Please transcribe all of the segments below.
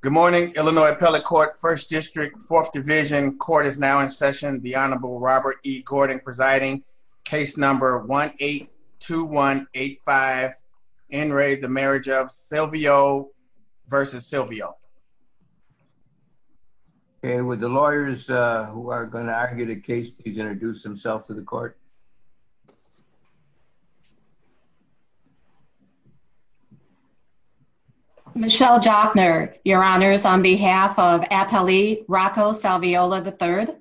Good morning, Illinois Appellate Court, First District, Fourth Division. Court is now in session. The Honorable Robert E. Gordon presiding. Case number 1-8-2185, In re, the marriage of Silvio versus Silvio. And with the lawyers who are gonna argue the case, please introduce themselves to the court. Michelle Jochner, your honors on behalf of Appellate, Rocco Salviola, the third.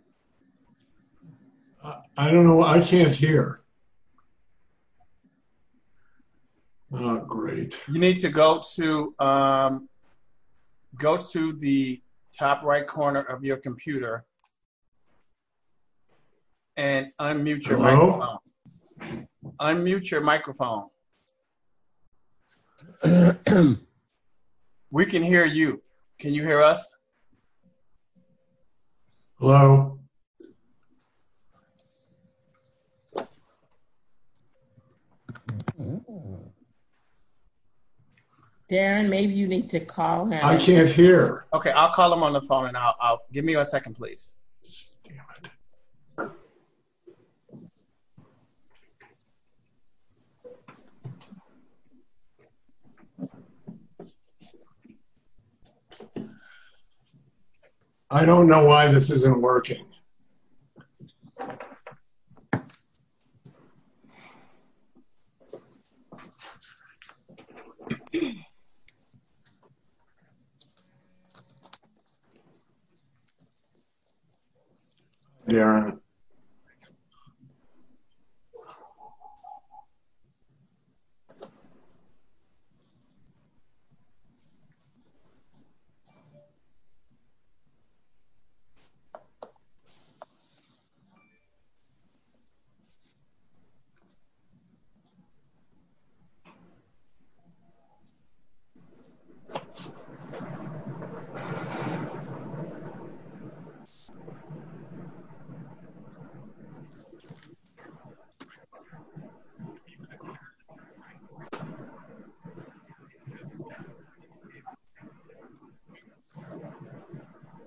I don't know. I can't hear. Great. You need to go to, go to the top right corner of your computer. And unmute your microphone. Unmute your microphone. We can hear you. Can you hear us? Hello? Darren, maybe you need to call him. I can't hear. Okay. I'll call him on the phone and I'll, give me a second, please. I don't know why this isn't working. Yeah.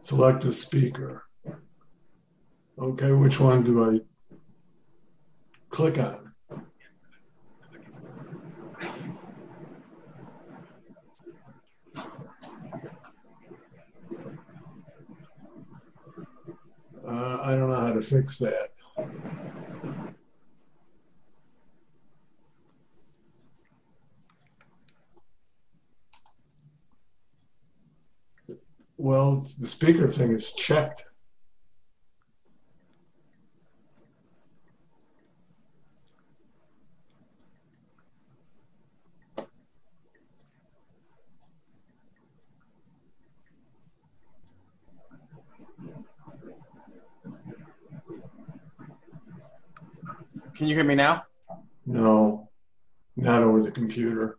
Select a speaker, okay, which one do I click on? I don't know how to fix that. Well, the speaker thing is checked. Can you hear me now? No, not over the computer.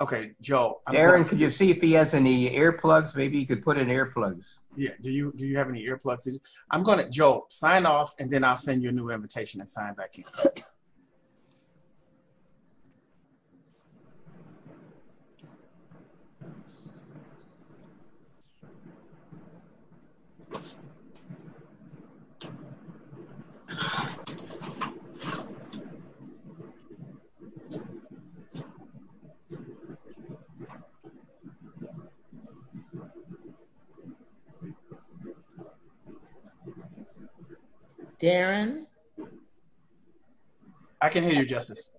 Okay, Joe. Darren, can you see if he has any earplugs? Maybe you could put in earplugs. Yeah, do you have any earplugs? I'm going to, Joe, sign off, and then I'll send you a new invitation and sign back in. Darren? I can hear you, Justice.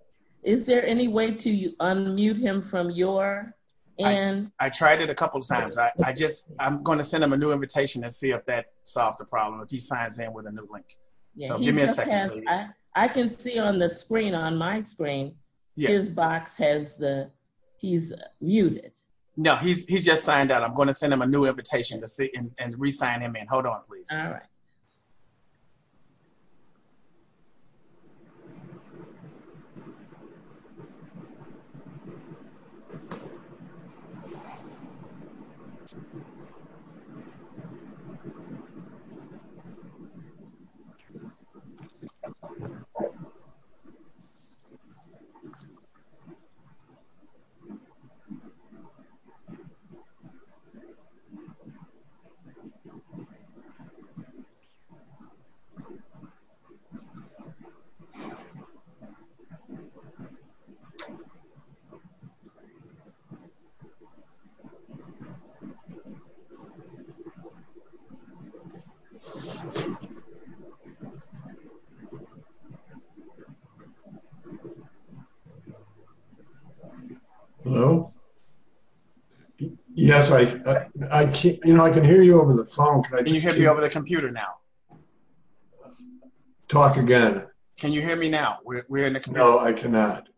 Is there any way to unmute him from your end? I tried it a couple of times. I just, I'm going to send him a new invitation and see if that solves the problem if he signs in with a new link. I can see on the screen, on my screen, his box has the, he's muted. No, he just signed out. I'm going to send him a new invitation and re-sign him in. Hold on, please. All right. Hold on. Hold on. Hold on. Hello? Yes, I can hear you over the phone. Can you hear me over the computer now? Talk again. Can you hear me now? No, I cannot.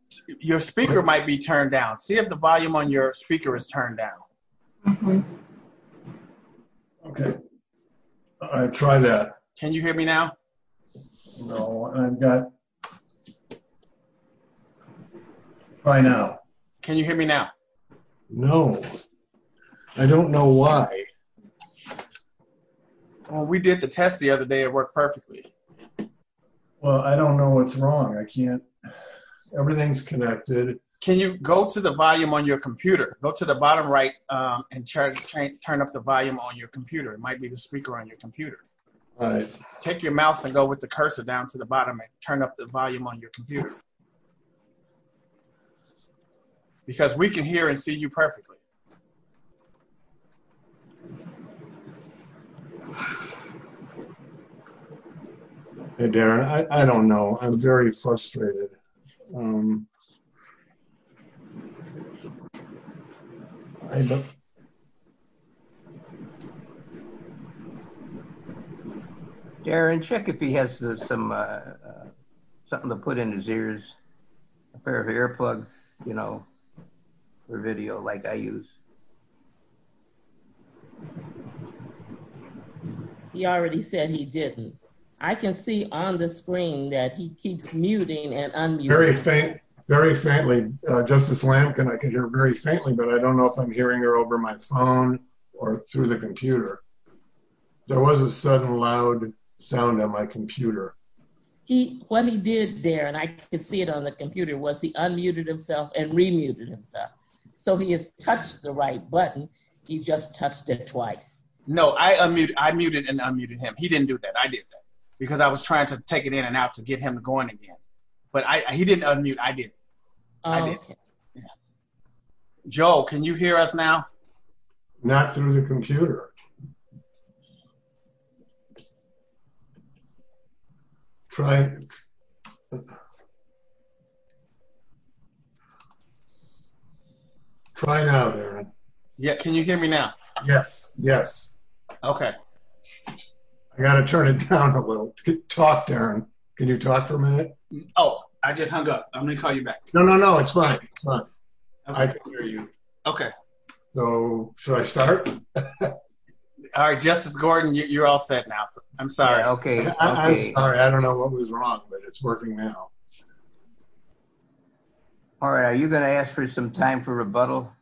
Your speaker might be turned down. See if the volume on your speaker is turned down. Okay. All right, try that. Can you hear me now? No, I've got, try now. Can you hear me now? No, I don't know why. Well, we did the test the other day. It worked perfectly. Well, I don't know what's wrong. I can't, everything's connected. Can you go to the volume on your computer? Go to the bottom right and turn up the volume on your computer. It might be the speaker on your computer. Take your mouse and go with the cursor down to the bottom and turn up the volume on your computer. Because we can hear and see you perfectly. Okay. Hey, Darren, I don't know. I'm very frustrated. Darren, check if he has some, something to put in his ears, a pair of earplugs, you know, for video like I use. He already said he didn't. I can see on the screen that he keeps muting and unmuting. Very faint, very faintly. Justice Lampkin, I can hear very faintly, but I don't know if I'm hearing her over my phone or through the computer. There was a sudden loud sound on my computer. He, what he did there, and I could see it on the computer, was he unmuted himself and remuted himself. So he has touched the right button. He just touched it twice. No, I unmuted, I muted and unmuted him. He didn't do that. I did that. Because I was trying to take it in and out to get him going again. But I, he didn't unmute. I did. Joel, can you hear us now? Not through the computer. Try it out, Darren. Yeah. Can you hear me now? Yes, yes. Okay. I got to turn it down a little. Talk, Darren. Can you talk for a minute? Oh, I just hung up. I'm going to call you back. No, no, no, it's fine. I can hear you. Okay. So, should I start? All right, Justice Gordon, you're all set now. I'm sorry. Okay. I'm sorry. I don't know what was wrong, but it's working now. All right. Are you going to ask for some time for rebuttal?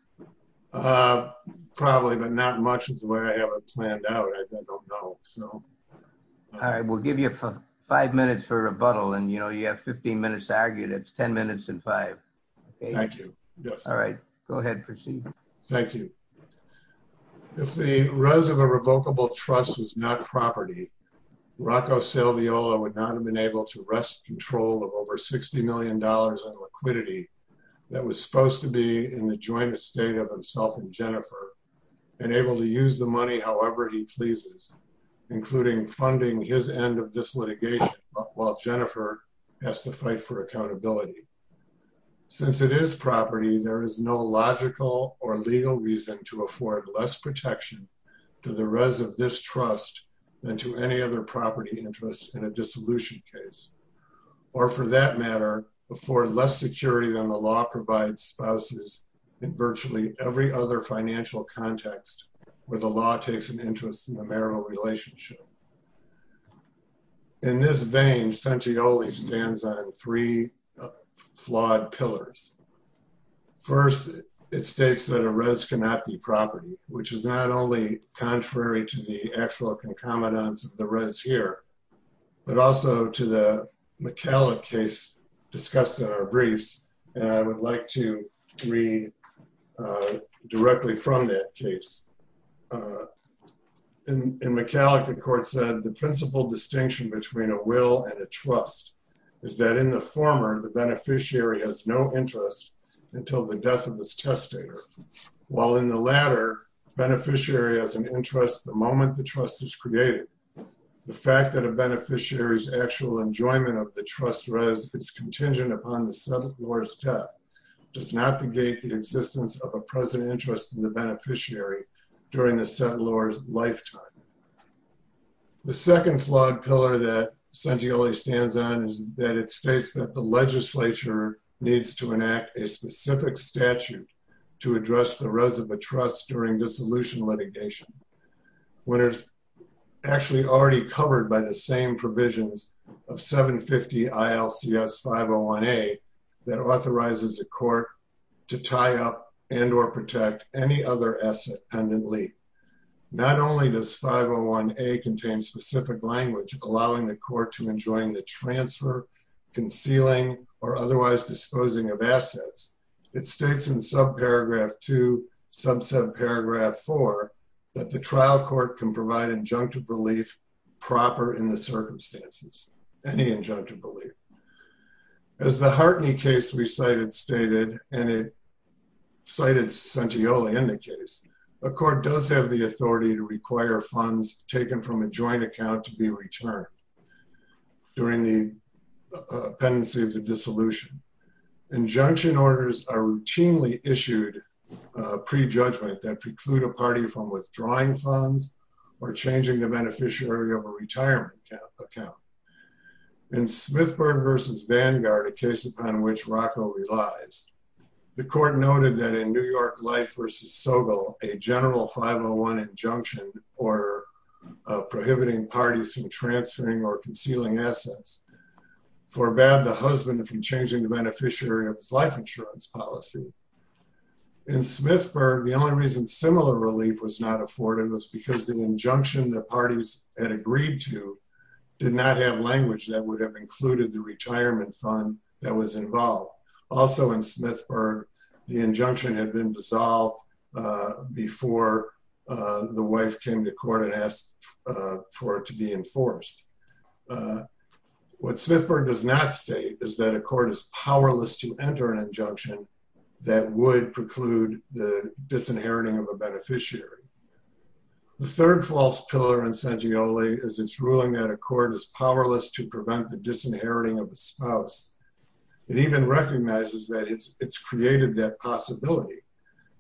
Probably, but not much is the way I have it planned out. I don't know. All right. We'll give you five minutes for rebuttal. And you have 15 minutes to argue. That's 10 minutes and five. Thank you. Yes. All right. Go ahead. Proceed. Thank you. I'm sorry. I'm sorry. I'm sorry. If the rest of the revocable trust was not property. Rocco Salviola would not have been able to rest control of over $60 million in liquidity. That was supposed to be in the joint estate of himself and Jennifer. And able to use the money. However, he pleases. Including funding, his end of this litigation, he has to fight for accountability. While Jennifer has to fight for accountability. Since it is property. There is no logical or legal reason to afford less protection. To the rest of this trust. Then to any other property interest in a dissolution case. Or for that matter. Before less security than the law provides spouses. In virtually every other financial context. Where the law takes an interest in the marital relationship. In this vein. Since he only stands on three. Flawed pillars. First, it states that a rez cannot be property, which is not only contrary to the actual concomitants. The reds here. But also to the McKellar case. Discussed in our briefs. And I would like to read. A quote. Directly from that case. In McCallaghan court said the principle distinction between a will and a trust. Is that in the former, the beneficiary has no interest. Until the death of this test. While in the latter. Beneficiary has an interest. The moment the trust is created. The fact that a beneficiary is actual enjoyment of the trust. It's contingent upon the Senate. Does not the gate, the existence of a present interest in the beneficiary. During the second law's lifetime. The second flag pillar that. I'm going to read. A quote. Sent to you only stands on is that it states that the legislature. Needs to enact a specific statute. To address the rows of a trust during dissolution litigation. What is. Actually already covered by the same provisions. Of seven 50 ILCS five. Oh one eight. That authorizes a court. To tie up and or protect any other asset. Not only does five oh one eight contain specific language. Allowing the court to enjoin the transfer. Concealing or otherwise disposing of assets. It states in sub paragraph two. Some said paragraph four. That the trial court can provide injunctive relief. Proper in the circumstances. And the injunctive belief. As the Hartney case. We cited stated. And it. Sighted sent to you only in the case. A court does have the authority to require funds. Taken from a joint account to be returned. During the. Penalty of the dissolution. Injunction orders are routinely issued. Prejudgment that preclude a party from withdrawing funds. Or changing the beneficiary of a retirement account. Account. In Smith versus Vanguard. A case upon which Rocco relies. The court noted that in New York life versus Sobel. A general five oh one injunction. Or. Prohibiting parties from transferring or concealing assets. For a bad, the husband. If you changing the beneficiary. Life insurance policy. In Smith for the only reason. Similar relief was not afforded. It was because the injunction that parties. And agreed to. Did not have language that would have included the retirement fund. That was involved. Also in Smith for the injunction had been dissolved. Before. The wife came to court and asked. For it to be enforced. What Smith for does not state. Is that a court is powerless to enter an injunction. That would preclude the disinheriting of a beneficiary. The third false pillar. As it's ruling that a court is powerless to prevent the disinheriting. Of the spouse. It even recognizes that it's, it's created that possibility.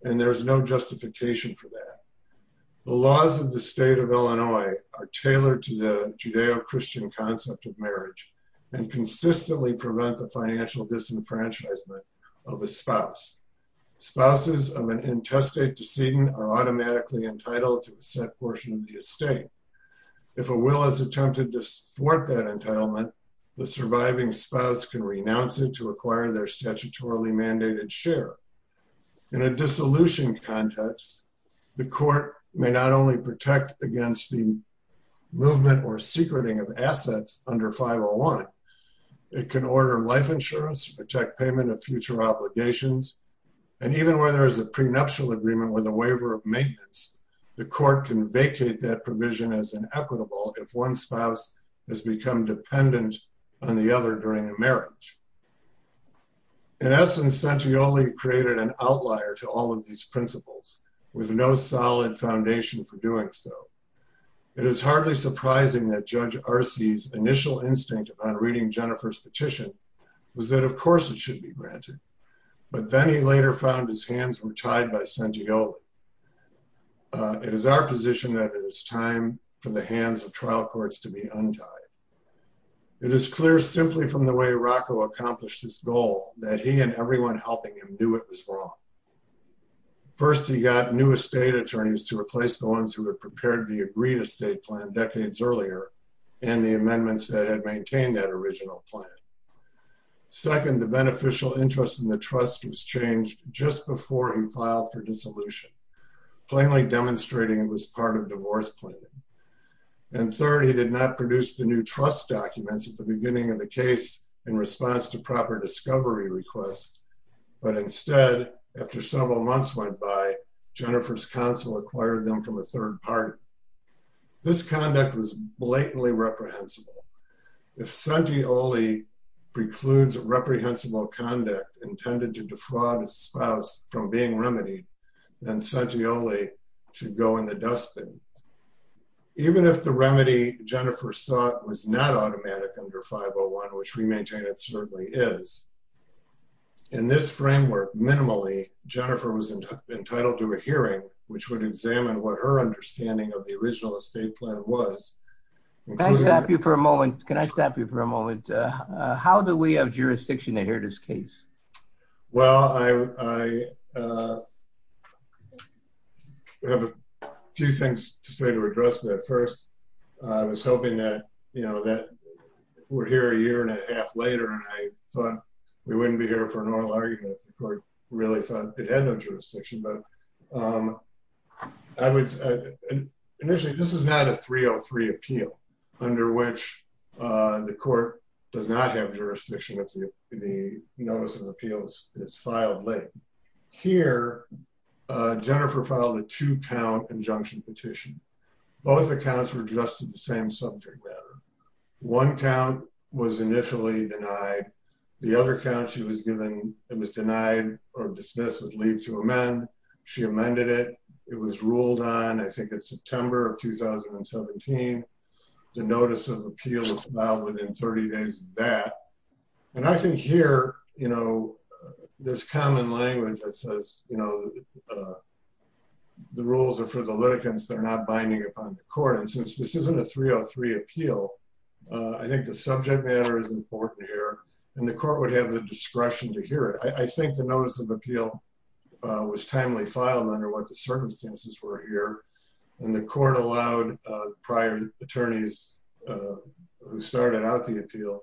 The laws of the state of Illinois. Are tailored to the Judeo-Christian concept of marriage. And consistently prevent the financial disenfranchisement. Of the spouse. Spouses of an intestate. Decision are automatically entitled to the set portion of the estate. If a will has attempted to support that entitlement. The surviving spouse can renounce it to acquire their statutorily mandated share. In a dissolution context. The court may not only protect against the. Movement or secreting of assets under 501. It can order life insurance, protect payment of future obligations. And even where there is a prenuptial agreement with a waiver of maintenance. The court can vacate that provision as an equitable. If one spouse. On the other during a marriage. In essence, It is hardly surprising that judge RC's initial instinct on reading Jennifer's petition. Was that of course it should be granted. But then he later found his hands were tied by Santiago. It is our position that it is time for the hands of trial courts to be untied. It is clear simply from the way Rocco accomplished his goal that he and everyone helping him do it as well. First, he got new estate attorneys to replace the ones who had prepared the agreed estate plan decades earlier. And the amendments that had maintained that original plan. Second, the beneficial interest in the trust was changed just before he filed for dissolution. Plainly demonstrating it was part of divorce planning. And third, he did not produce the new trust documents at the beginning of the case in response to proper discovery requests. But instead, after several months went by Jennifer's council acquired them from a third party. This conduct was blatantly reprehensible. If Santioli precludes reprehensible conduct intended to defraud a spouse from being remedied, then Santioli should go in the dustbin. Even if the remedy Jennifer saw was not automatic under 501, which we maintain it certainly is. In this framework, minimally Jennifer was entitled to a hearing, which would examine what her understanding of the original estate plan was. Can I stop you for a moment? Can I stop you for a moment? How do we have jurisdiction to hear this case? Well, I, I have a few things to say to address that first. I was hoping that, you know, that we're here a year and a half later. And I thought we wouldn't be here for an oral argument. The court really thought it had no jurisdiction, but I would initially, this is not a 303 appeal under which the court does not have jurisdiction. If the notice of appeals is filed late here, Jennifer filed a two count injunction petition. Both accounts were just in the same subject matter. One count was initially denied the other count. She was given, it was denied or dismissed with leave to amend. She amended it. It was ruled on, I think it's September of 2017. The notice of appeal was filed within 30 days of that. And I think here, you know, there's common language that says, you know, the rules are for the litigants. They're not binding upon the court. And since this isn't a 303 appeal, I think the subject matter is important here. And the court would have the discretion to hear it. I think the notice of appeal was timely filed under what the circumstances were here. And the court allowed prior attorneys who started out the appeal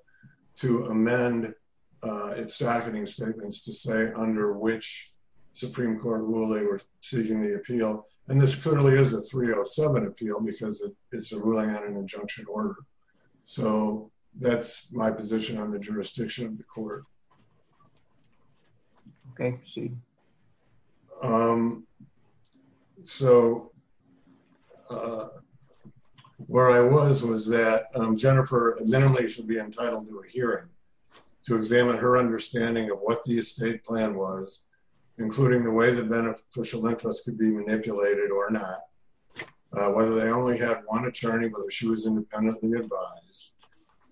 to amend its staffing statements to say under which Supreme court rule, they were seeking the appeal. And this clearly is a 307 appeal because it's a ruling on an injunction order. So that's my position on the jurisdiction of the court. Okay. Um, so, uh, where I was was that, um, Jennifer minimally should be entitled to a hearing to examine her understanding of what the estate plan was, including the way that beneficial interest could be manipulated or not, whether they only have one attorney, whether she was independently advised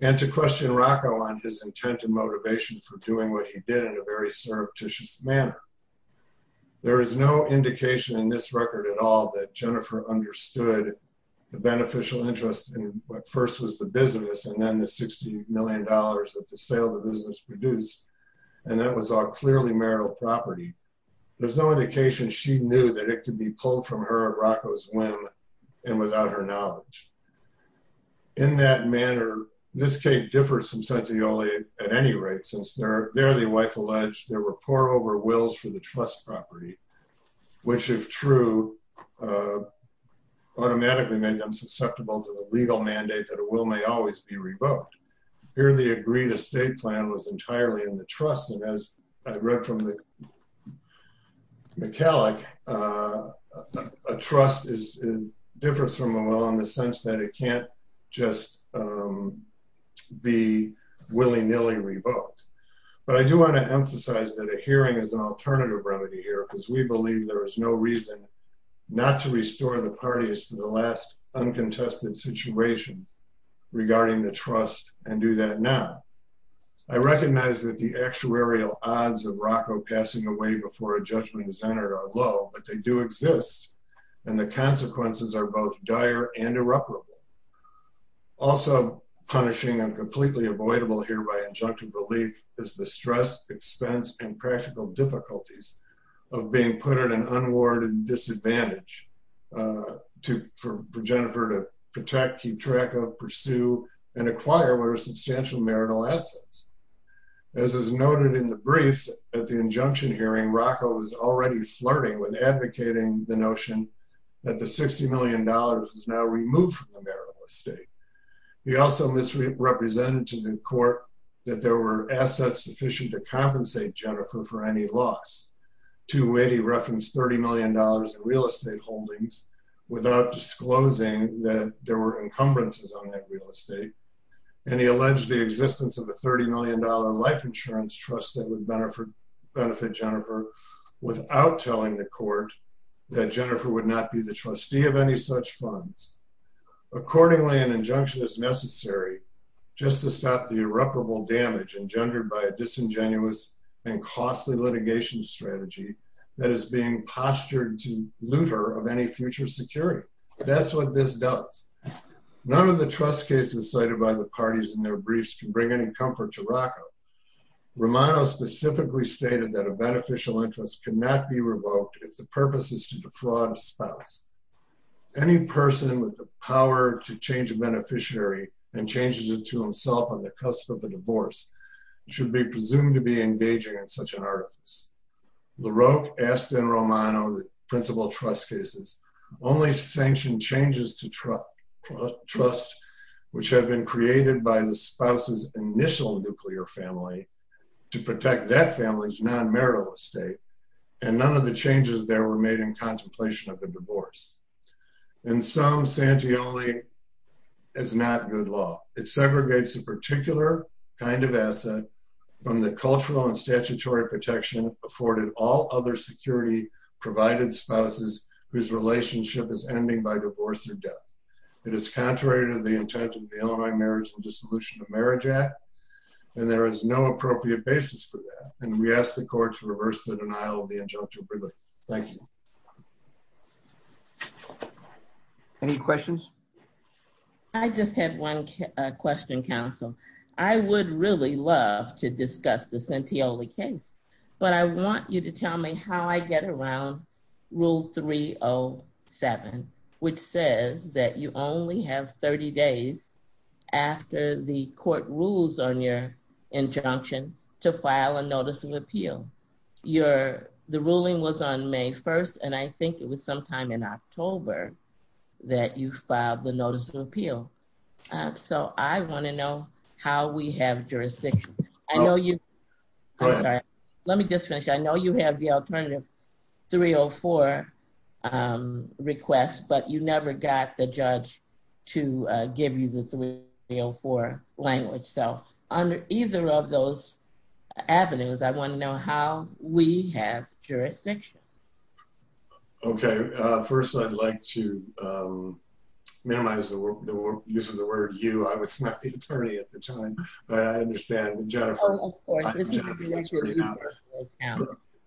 and to question Rocco on his intent and motivation for doing what he did in a very surreptitious manner. There is no indication in this record at all that Jennifer understood the beneficial interest in what first was the business. And then the $60 million that the sale of the business produced. And that was all clearly marital property. There's no indication. She knew that it could be pulled from her at Rocco's when, and without her knowledge in that manner, this case differed some sense of the only at any rate, since they're there, the wife alleged there were poor over wills for the trust property, which is true, uh, automatically made them susceptible to the legal mandate that it will may always be revoked here. The only way to really agree to state plan was entirely in the trust. And as I read from the McCalloch, uh, a trust is different from a law in the sense that it can't just, um, be willy nilly revoked. But I do want to emphasize that a hearing is an alternative remedy here because we believe there is no reason not to restore the parties to the last one contested situation regarding the trust and do that. Now I recognize that the actuarial odds of Rocco passing away before a judgment is entered are low, but they do exist and the consequences are both dire and irreparable. Also punishing and completely avoidable here by injunctive relief is the stress expense and practical difficulties of being put at an unwarranted disadvantage, uh, to, for, for Jennifer to protect, keep track of pursue and acquire where substantial marital assets, as is noted in the briefs at the injunction hearing, Rocco was already flirting with advocating the notion that the $60 million is now removed from the marital estate. He also misrepresented to the court that there were assets sufficient to compensate Jennifer for any loss to it. He referenced $30 million in real estate holdings without disclosing that there were encumbrances on that real estate. And he alleged the existence of a $30 million life insurance trust that would benefit Jennifer without telling the court that Jennifer would not be the trustee of any such funds. Accordingly, an injunction is necessary just to stop the irreparable damage engendered by a trustee as being postured to looter of any future security. That's what this does. None of the trust cases cited by the parties in their briefs can bring any comfort to Rocco. Romano specifically stated that a beneficial interest cannot be revoked if the purpose is to defraud a spouse. Any person with the power to change a beneficiary and changes it to himself on the cusp of a divorce should be presumed to be engaging in such an artifice. The Roque asked in Romano, the principal trust cases only sanctioned changes to trust trust, which have been created by the spouse's initial nuclear family to protect that family's non-marital estate. And none of the changes there were made in contemplation of the divorce. And some Santioli is not good law. It is contrary to the intent of the Illinois marriage and dissolution of marriage act. And there is no appropriate basis for that. And we asked the court to reverse the denial of the injunction. Thank you. Any questions. I just had one question council. I would love to discuss the Santioli case. But I want you to tell me how I get around rule three Oh seven, which says that you only have 30 days after the court rules on your injunction to file a notice of appeal. Your, the ruling was on may 1st and I think it was sometime in October that you filed the notice of appeal. So I want to know how we have jurisdiction. I know you, let me just finish. I know you have the alternative three Oh four requests, but you never got the judge to give you the three Oh four language. So under either of those avenues, I want to know how we have jurisdiction. Okay. First I'd like to minimize the use of the word you, I was not the attorney at the time, but I understand.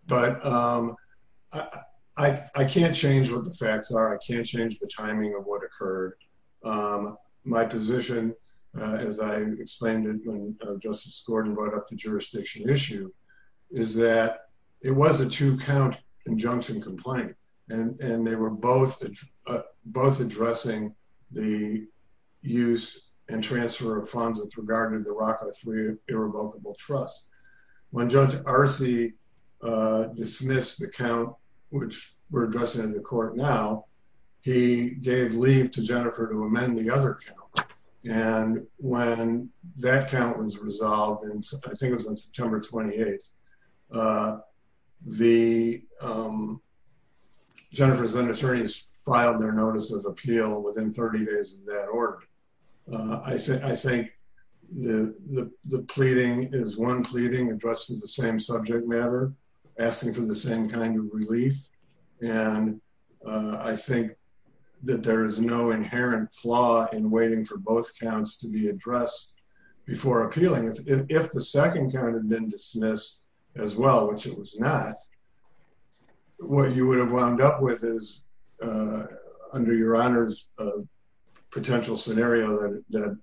But I can't change what the facts are. I can't change the timing of what occurred. My position as I explained it, when Joseph scored and brought up the jurisdiction issue is that it was a two count injunction complaint and they were both, both addressing the use and transfer of funds with regard to the rocket three irrevocable trust. When judge RC dismissed the count, which we're addressing in the court now, he gave leave to Jennifer to amend the other count. And when that count was resolved, and I think it was on September 28th, the Jennifer's then attorneys filed their notice of appeal within 30 days of that order. I said, I think the pleading is one pleading addressed to the same subject matter asking for the same kind of relief. And I think that there is no inherent flaw in waiting for both counts to be addressed before appealing. If the second count had been dismissed as well, which it was not, what you would have wound up with is under your honors, a potential scenario that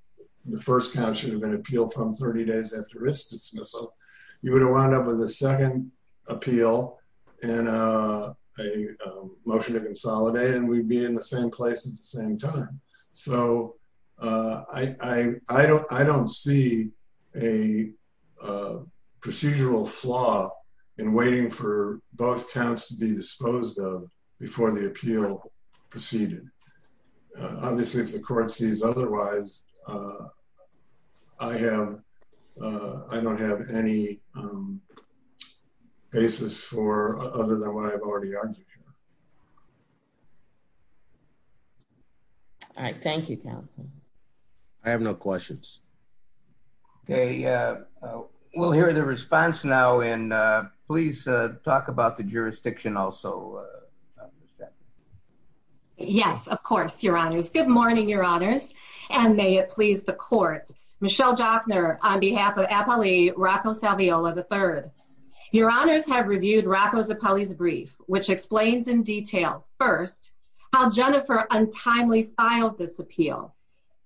the first count should have been appealed from 30 days after it's dismissal. You would have wound up with a second appeal and a motion to consolidate and we'd be in the same place at the same time. So I, I, I don't, I don't see a procedural flaw in waiting for both counts to be disposed of before the appeal proceeded. Obviously if the court sees otherwise I have, I don't have any basis for other than what I've already argued. Sure. All right. Thank you, counsel. I have no questions. Okay. Uh, we'll hear the response now. And, uh, please talk about the jurisdiction also. Yes, of course. Your honors. Good morning, your honors. And may it please the court, Michelle Jockner, on behalf of Apolli Rocco Salviola the third, your honors have reviewed Rocco's Apolli's brief, which explains in detail first how Jennifer untimely filed this appeal.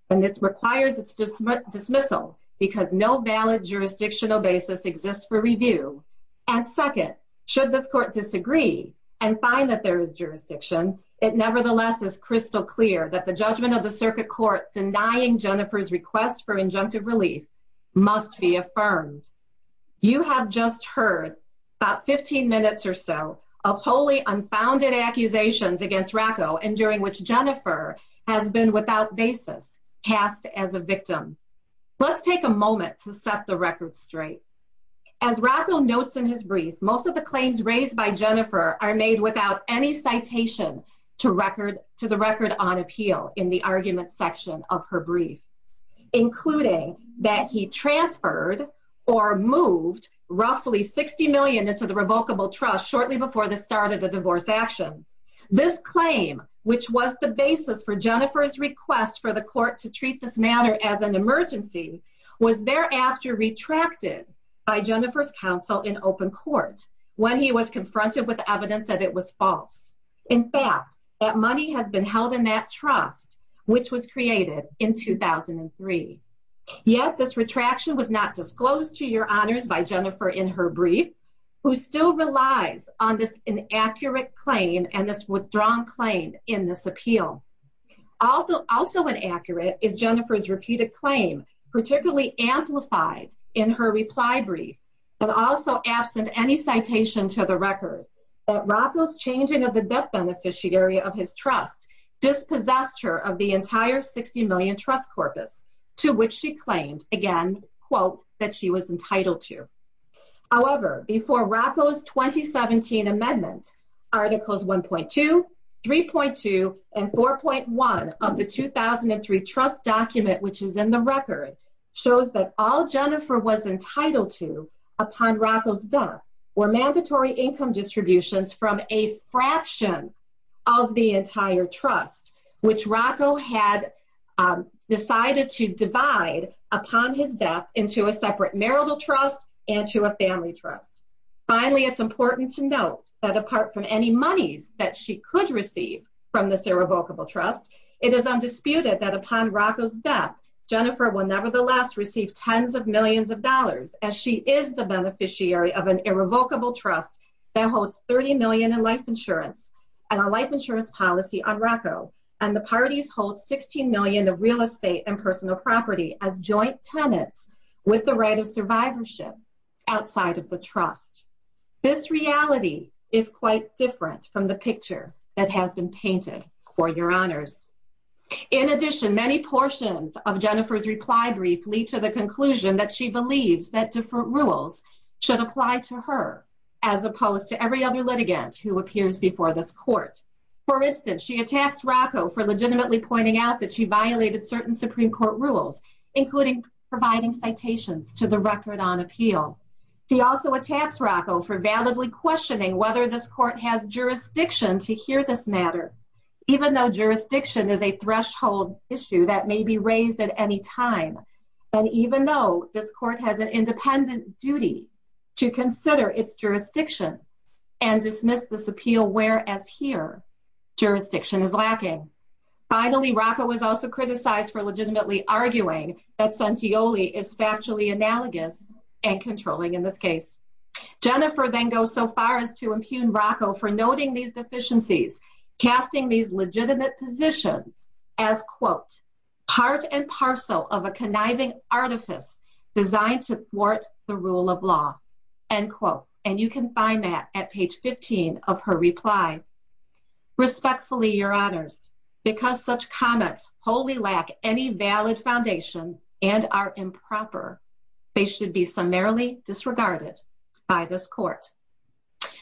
And it's requires it's dismissal because no valid jurisdictional basis exists for review. And second, should this court disagree and find that there is jurisdiction, it nevertheless is crystal clear that the judgment of the circuit court denying Jennifer's request for injunctive relief must be affirmed. You have just heard about 15 minutes or so of wholly unfounded accusations against Rocco and during which Jennifer has been without basis passed as a victim. Let's take a moment to set the record straight. As Rocco notes in his brief, most of the claims raised by Jennifer are made without any citation to record to the record on appeal in the argument section of her brief, including that he transferred or moved roughly 60 million into the revocable trust shortly before the start of the divorce action. This claim, which was the basis for Jennifer's request for the court to treat this matter as an emergency was thereafter retracted by Jennifer's counsel in open court when he was confronted with evidence that it was false. In fact, that money has been held in that trust, which was created in 2003 yet this retraction was not disclosed to your honors by Jennifer in her brief who still relies on this inaccurate claim and this withdrawn claim in this appeal. Also, also an accurate is Jennifer's repeated claim, particularly amplified in her reply brief, but also absent any citation to the record that Rocco's changing of the debt beneficiary of his trust dispossessed her of the entire 60 million trust corpus to which she claimed again, quote, that she was entitled to. However, before Rocco's 2017 amendment articles, 1.2 3.2 and 4.1 of the 2003 trust document, which is in the record shows that all Jennifer was entitled to upon Rocco's death were mandatory income distributions from a fraction of the entire trust, which Rocco had decided to divide upon his death into a separate marital trust and to a family trust. Finally, it's important to note that apart from any monies that she could receive from this irrevocable trust, it is undisputed that upon Rocco's death Jennifer will nevertheless receive tens of millions of dollars as she is the beneficiary of an irrevocable trust that holds 30 million in life insurance and a life insurance policy on Rocco. And the parties hold 16 million of real estate and personal property as joint tenants with the right of survivorship outside of the trust. This reality is quite different from the picture that has been painted for your honors. In addition, many portions of Jennifer's reply briefly to the conclusion that she believes that different rules should apply to her as opposed to every other litigant who appears before this court. For instance, she attacks Rocco for legitimately pointing out that she violated certain Supreme court rules, including providing citations to the record on appeal. He also attacks Rocco for validly questioning whether this court has jurisdiction to hear this matter, even though jurisdiction is a threshold issue that may be raised at any time. And even though this court has an independent duty to consider its jurisdiction and dismiss this appeal, whereas here jurisdiction is lacking. Finally Rocco was also criticized for legitimately arguing that Santioli is factually analogous and controlling in this case. Jennifer then goes so far as to impugn Rocco for noting these deficiencies, casting these legitimate positions as quote, part and parcel of a conniving artifice designed to thwart the rule of law, end quote. And you can find that at page 15 of her reply. Respectfully, your honors, because such comments wholly lack any valid foundation and are improper, they should be summarily disregarded by this court.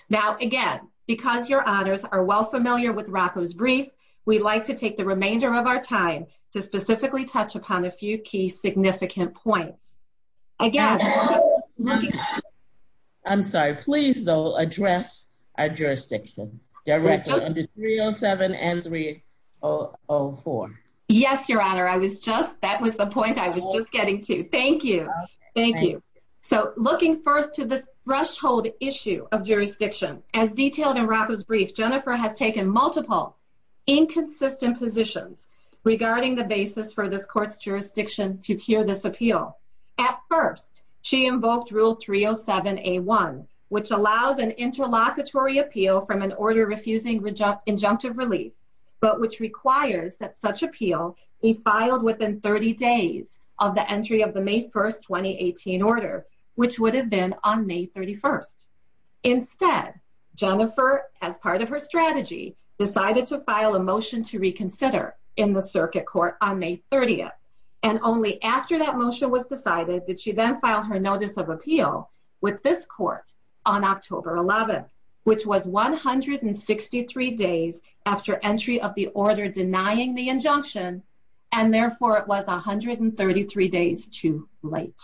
Now, again, because your honors are well familiar with Rocco's brief, we'd like to take the remainder of our time to specifically touch upon a few key significant points. Again, I'm sorry, please though, address our jurisdiction. Yes, your honor. I was just, that was the point I was just getting to. Thank you. Thank you. So looking first to this threshold issue of jurisdiction as detailed in Rocco's brief, Jennifer has taken multiple inconsistent positions regarding the basis for this court's jurisdiction to hear this appeal. At first, she invoked rule 307A1, which allows an interlocutory appeal from an order refusing injunctive relief, but which requires that such appeal be filed within 30 days of the entry of the May 1st, 2018 order, which would have been on May 31st. Instead, Jennifer, as part of her strategy, decided to file a motion to reconsider in the circuit court on May 30th. And only after that motion was decided that she then filed her notice of appeal with this court on October 11, which was 163 days after entry of the order denying the injunction. And therefore it was 133 days too late.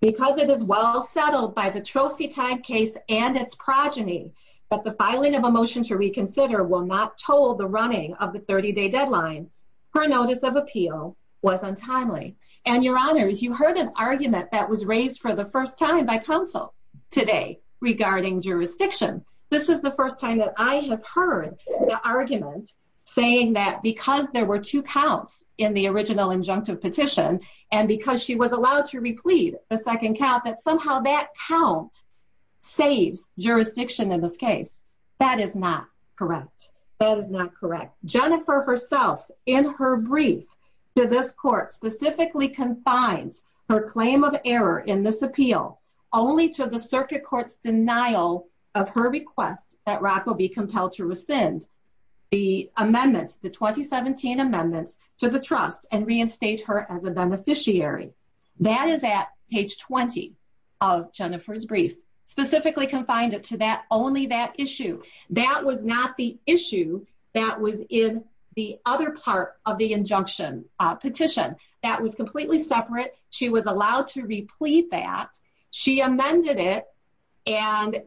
Because it is well settled by the trophy time case and its progeny that the filing of a motion to reconsider will not toll the running of the 30 day deadline. Her notice of appeal was untimely. And your honors, you heard an argument that was raised for the first time by council today regarding jurisdiction. This is the first time that I have heard the argument saying that because there were two counts in the original injunctive petition, and because she was allowed to replete the second count, that somehow that count saves jurisdiction in this case. That is not correct. That is not correct. Jennifer herself in her brief to this court specifically confines her claim of error in this appeal only to the circuit court's denial of her request that to the trust and reinstate her as a beneficiary. That is at page 20 of Jennifer's brief specifically confined it to that only that issue. That was not the issue that was in the other part of the injunction petition that was completely separate. She was allowed to replete that. She amended it. And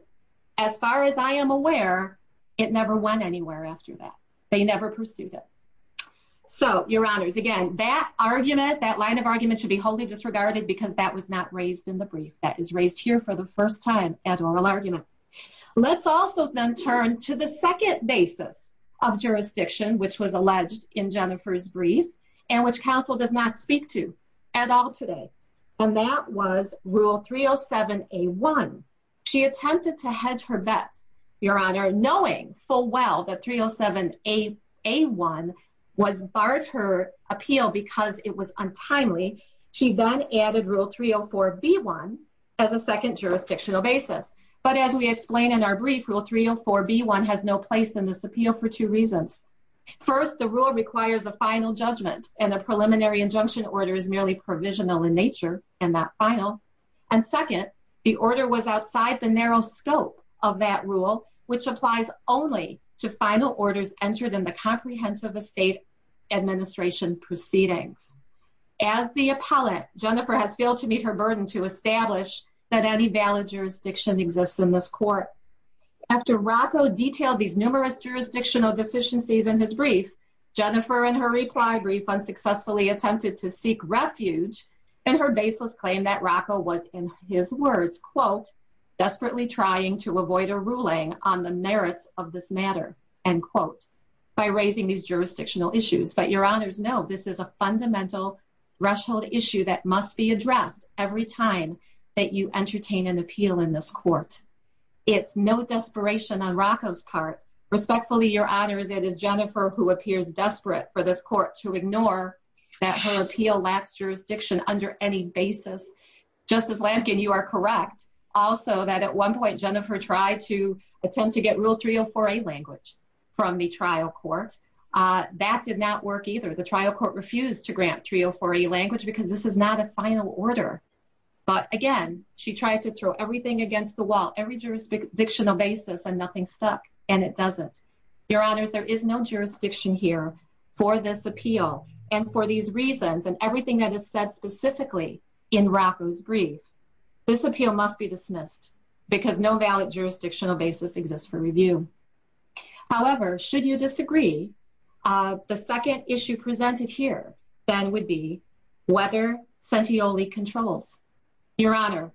as far as I am aware, it never went anywhere after that. They never pursued it. So your honors, again, that argument, that line of argument should be wholly disregarded because that was not raised in the brief that is raised here for the first time at oral argument. Let's also then turn to the second basis of jurisdiction, which was alleged in Jennifer's brief and which council does not speak to at all today. And that was rule 307 a one. She attempted to hedge her bets. Your honor, knowing full well that 307 a a one was barred her appeal because it was untimely. She then added rule 304 B one as a second jurisdictional basis. But as we explained in our brief rule, 304 B one has no place in this appeal for two reasons. First, the rule requires a final judgment and a preliminary injunction order is merely provisional in nature and that final. And second, the order was outside the narrow scope of that rule, which applies only to final orders entered in the comprehensive estate administration proceedings. As the appellate, Jennifer has failed to meet her burden to establish that any valid jurisdiction exists in this court. After Rocco detailed these numerous jurisdictional deficiencies in his brief, Jennifer and her required refund successfully attempted to seek refuge and her baseless claim that Rocco was in his words, quote, desperately trying to avoid a ruling on the merits of this matter and quote by raising these jurisdictional issues. But your honors know this is a fundamental threshold issue that must be addressed every time that you entertain an appeal in this court. It's no desperation on Rocco's part. Respectfully, your honors, it is Jennifer who appears desperate for this court to ignore that her appeal lacks jurisdiction under any basis. Justice Lampkin, you are correct. Also that at one point Jennifer tried to attempt to get real 304 a language from the trial court. Uh, that did not work either. The trial court refused to grant 304 a language because this is not a final order. But again, she tried to throw everything against the wall, every jurisdictional basis and nothing stuck and it doesn't. Your honors, there is no jurisdiction here for this appeal and for these reasons and everything that is said specifically in Rocco's brief, this appeal must be dismissed because no valid jurisdictional basis exists for review. However, should you disagree? Uh, the second issue presented here then would be whether Santeoli controls your honor.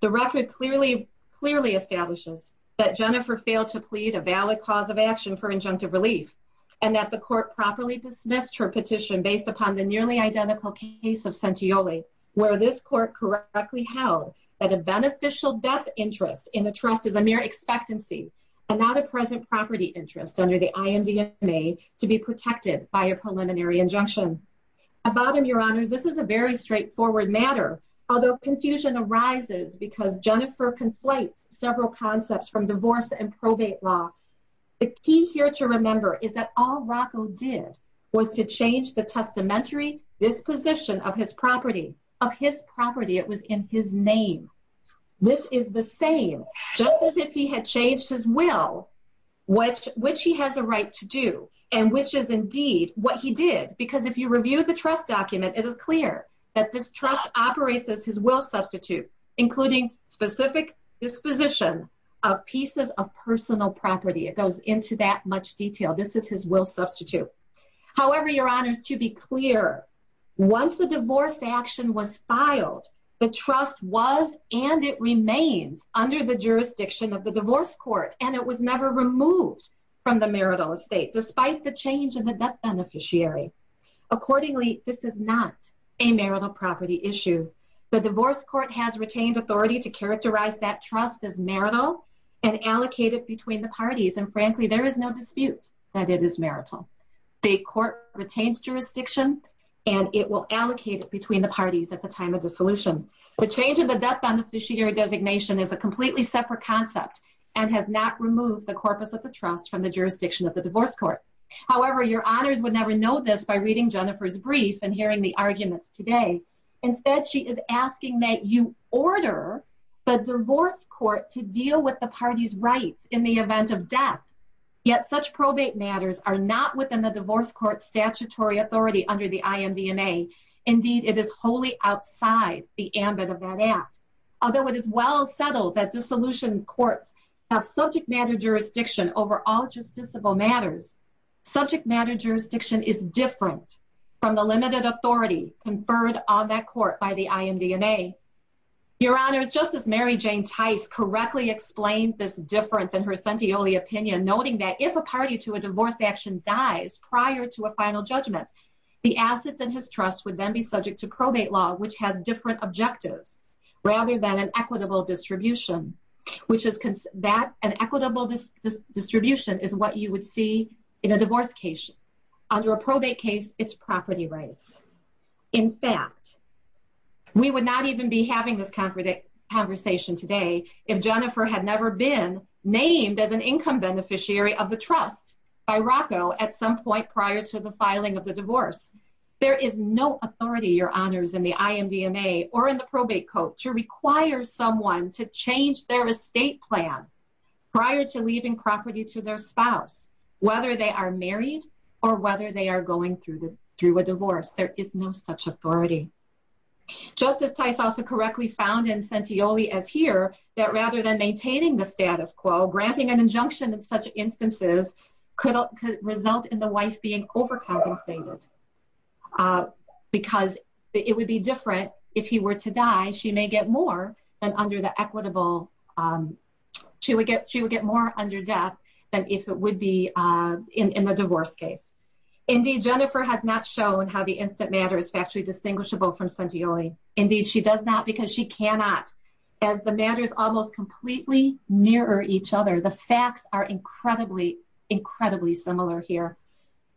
The record clearly, clearly establishes that Jennifer failed to plead a valid cause of action for injunctive relief and that the court properly dismissed her petition based upon the nearly identical case of Santeoli where this court correctly held that a beneficial depth interest in the trust is a mere expectancy and not a present property interest under the IMDMA to be protected by a preliminary injunction about him. Your honors, this is a very straightforward matter. Although confusion arises because Jennifer conflates several concepts from divorce and probate law. The key here to remember is that all Rocco did was to change the testamentary disposition of his property, of his property. It was in his name. This is the same, just as if he had changed his will, which, which he has a right to do and which is indeed what he did. Because if you review the trust document, it is clear that this trust operates as his will substitute, including specific disposition of pieces of personal property. It goes into that much detail. This is his will substitute. However, your honors to be clear, once the divorce action was filed, the trust was, and it remains under the jurisdiction of the divorce court and it was never removed from the marital estate despite the change in the debt beneficiary. Accordingly, this is not a marital property issue. The divorce court has retained authority to characterize that trust as marital and allocated between the parties. And frankly, there is no dispute that it is marital. The court retains jurisdiction and it will allocate it between the parties at the time of dissolution. The change of the debt beneficiary designation is a completely separate concept and has not removed the corpus of the trust from the jurisdiction of the divorce court. However, your honors would never know this by reading Jennifer's brief and hearing the arguments today. Instead, she is asking that you order the divorce court to deal with the party's rights in the event of death. Yet, such probate matters are not within the divorce court statutory authority under the IMDMA. Indeed, it is wholly outside the ambit of that act. Although it is well settled that dissolution courts have subject matter jurisdiction over all justiciable matters, subject matter jurisdiction is different from the limited authority conferred on that court by the IMDMA. Your honors, Justice Mary Jane Tice correctly explained this difference in her Sentioli opinion, noting that if a party to a divorce action dies prior to a final judgment, the assets in his trust would then be subject to probate law, which has different objectives rather than an equitable distribution, which is that an equitable distribution is what you would see in a divorce case. Under a probate case, it's property rights. In fact, we would not even be having this conversation today if Jennifer had never been named as an income beneficiary of the trust by Rocco at some point prior to the filing of the divorce. There is no authority, your honors, in the IMDMA or in the probate code to require someone to change their estate plan prior to leaving property to their spouse, whether they are married or whether they are going through a divorce. There is no such authority. Justice Tice also correctly found in Sentioli as here, that rather than maintaining the status quo, granting an injunction in such instances could result in the wife being overcompensated because it would be different if he were to die. She may get more than under the equitable. She would get more under death than if it would be in the divorce case. Indeed, Jennifer has not shown how the instant matter is factually distinguishable from Sentioli. Indeed, she does not because she cannot as the matters almost completely mirror each other. The facts are incredibly, incredibly similar here.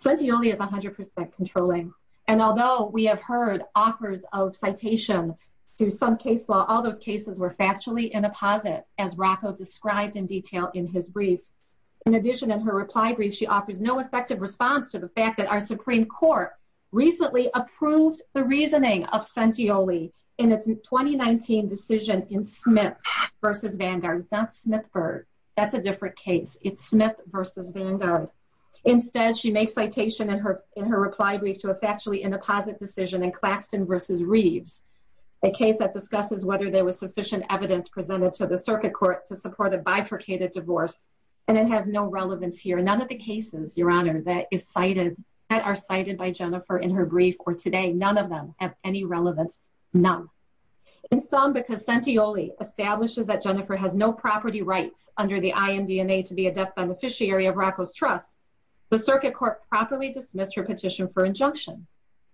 Sentioli is a hundred percent controlling. And although we have heard offers of citation through some case law, all those cases were factually in a posit as Rocco described in detail in his brief. In addition, in her reply brief, she offers no effective response to the fact that our Supreme court recently approved the reasoning of Sentioli in its 2019 decision in Smith versus Vanguard. It's not Smith bird. That's a different case. It's Smith versus Vanguard. Instead, she makes citation in her, in her reply brief to a factually in a posit decision and Claxton versus Reeves, a case that discusses whether there was sufficient evidence presented to the circuit court to support a bifurcated divorce. And it has no relevance here. None of the cases, your honor, that is cited that are cited by Jennifer in her brief or today, none of them have any relevance. None in some, because Sentioli establishes that Jennifer has no property rights under the beneficiary of Rocco's trust, the circuit court properly dismissed her petition for injunction.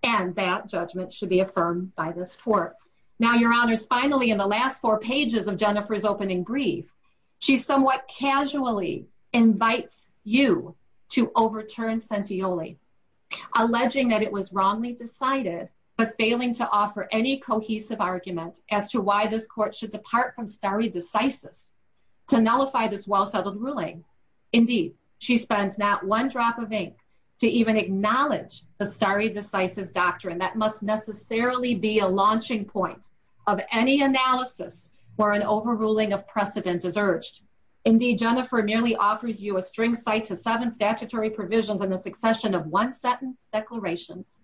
And that judgment should be affirmed by this court. Now your honors, finally, in the last four pages of Jennifer's opening brief, she's somewhat casually invites you to overturn Sentioli, alleging that it was wrongly decided, but failing to offer any cohesive argument as to why this court should Indeed, she spends not one drop of ink to even acknowledge the starry decisive doctrine. That must necessarily be a launching point of any analysis or an overruling of precedent is urged. Indeed, Jennifer merely offers you a string site to seven statutory provisions and the succession of one sentence declarations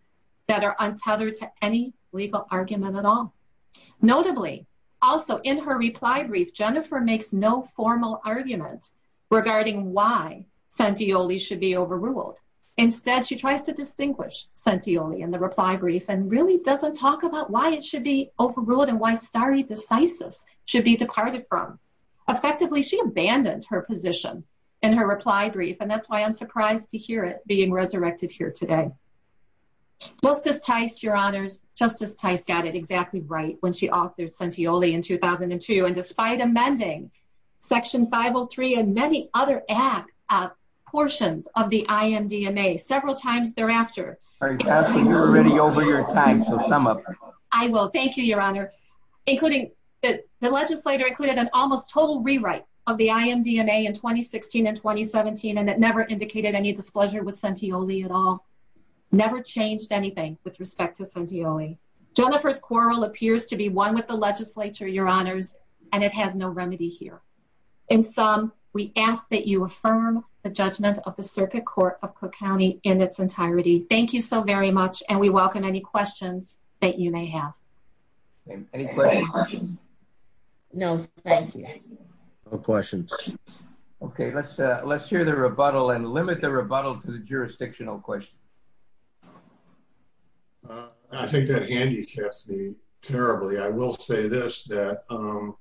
that are untethered to any legal argument at all. Notably also in her reply brief, Jennifer makes no formal argument regarding why Sentioli should be overruled. Instead, she tries to distinguish Sentioli in the reply brief and really doesn't talk about why it should be overruled and why starry decisive should be departed from effectively. She abandoned her position and her reply brief. And that's why I'm surprised to hear it being resurrected here today. Justice Tice, your honors justice Tice got it exactly right when she authored Sentioli in 2002. And despite amending section 503 and many other act, uh, portions of the IMDMA several times thereafter. You're already over your time. So sum up. I will. Thank you, your honor, including the legislator included an almost total rewrite of the IMDMA in 2016 and 2017. And it never indicated any displeasure with Sentioli at all. Never changed anything with respect to Sentioli. Jennifer's quarrel appears to be one with the legislature. Your honors. And it has no remedy here. In sum, we ask that you affirm the judgment of the circuit court of Cook County in its entirety. Thank you so very much. And we welcome any questions that you may have. No, thank you. No questions. Okay. Let's, uh, let's hear the rebuttal and limit the rebuttal to the jurisdictional question. Uh, I think that Andy kept me terribly. I will say this, that, um,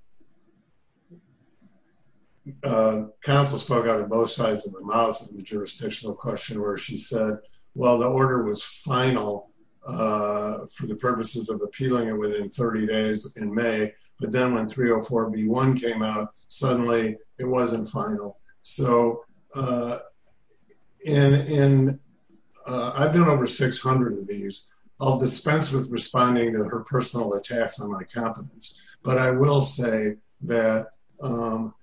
Uh, Council spoke out of both sides of the mouth of the jurisdictional question, where she said, well, the order was final. Uh, for the purposes of appealing it within 30 days in may, but then when 304 B one came out, suddenly it wasn't final. So, uh, And, and, uh, I've done over 600 of these I'll dispense with responding to her personal attacks on my competence, but I will say that, um,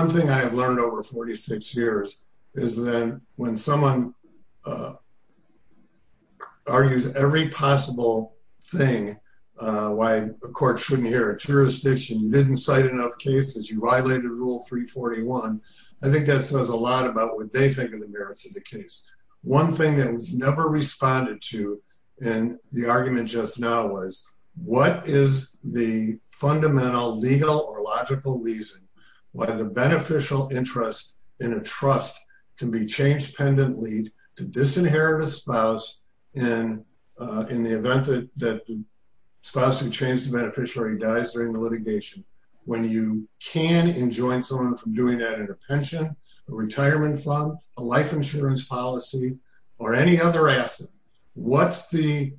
One thing I've learned over 46 years is that when someone, uh, Are you every possible thing, uh, why the court shouldn't hear a jurisdiction didn't cite enough cases. You violated rule three 41. I think that says a lot about what they think of the merits of the case. One thing that was never responded to. And the argument just now was what is the fundamental legal or logical reason? Why the beneficial interest in a trust can be changed. Pendant lead to disinherit a spouse. And, uh, in the event that the spouse who changed the beneficiary dies during the litigation. When you can enjoin someone from doing that in a pension, a retirement fund, a life insurance policy, or any other asset. Um, what's the,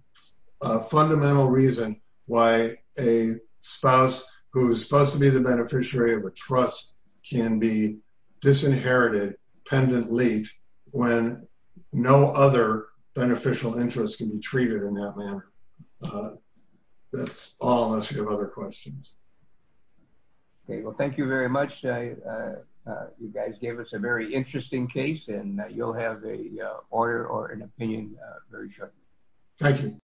uh, fundamental reason why a spouse who's supposed to be the beneficiary of a trust can be disinherited. Pendant late when no other beneficial interest can be treated in that manner. Uh, That's all unless you have other questions. Okay. Well, thank you very much. Uh, uh, uh, you guys gave us a very interesting case and that you'll have the, uh, order or an opinion, uh, very shortly. Thank you.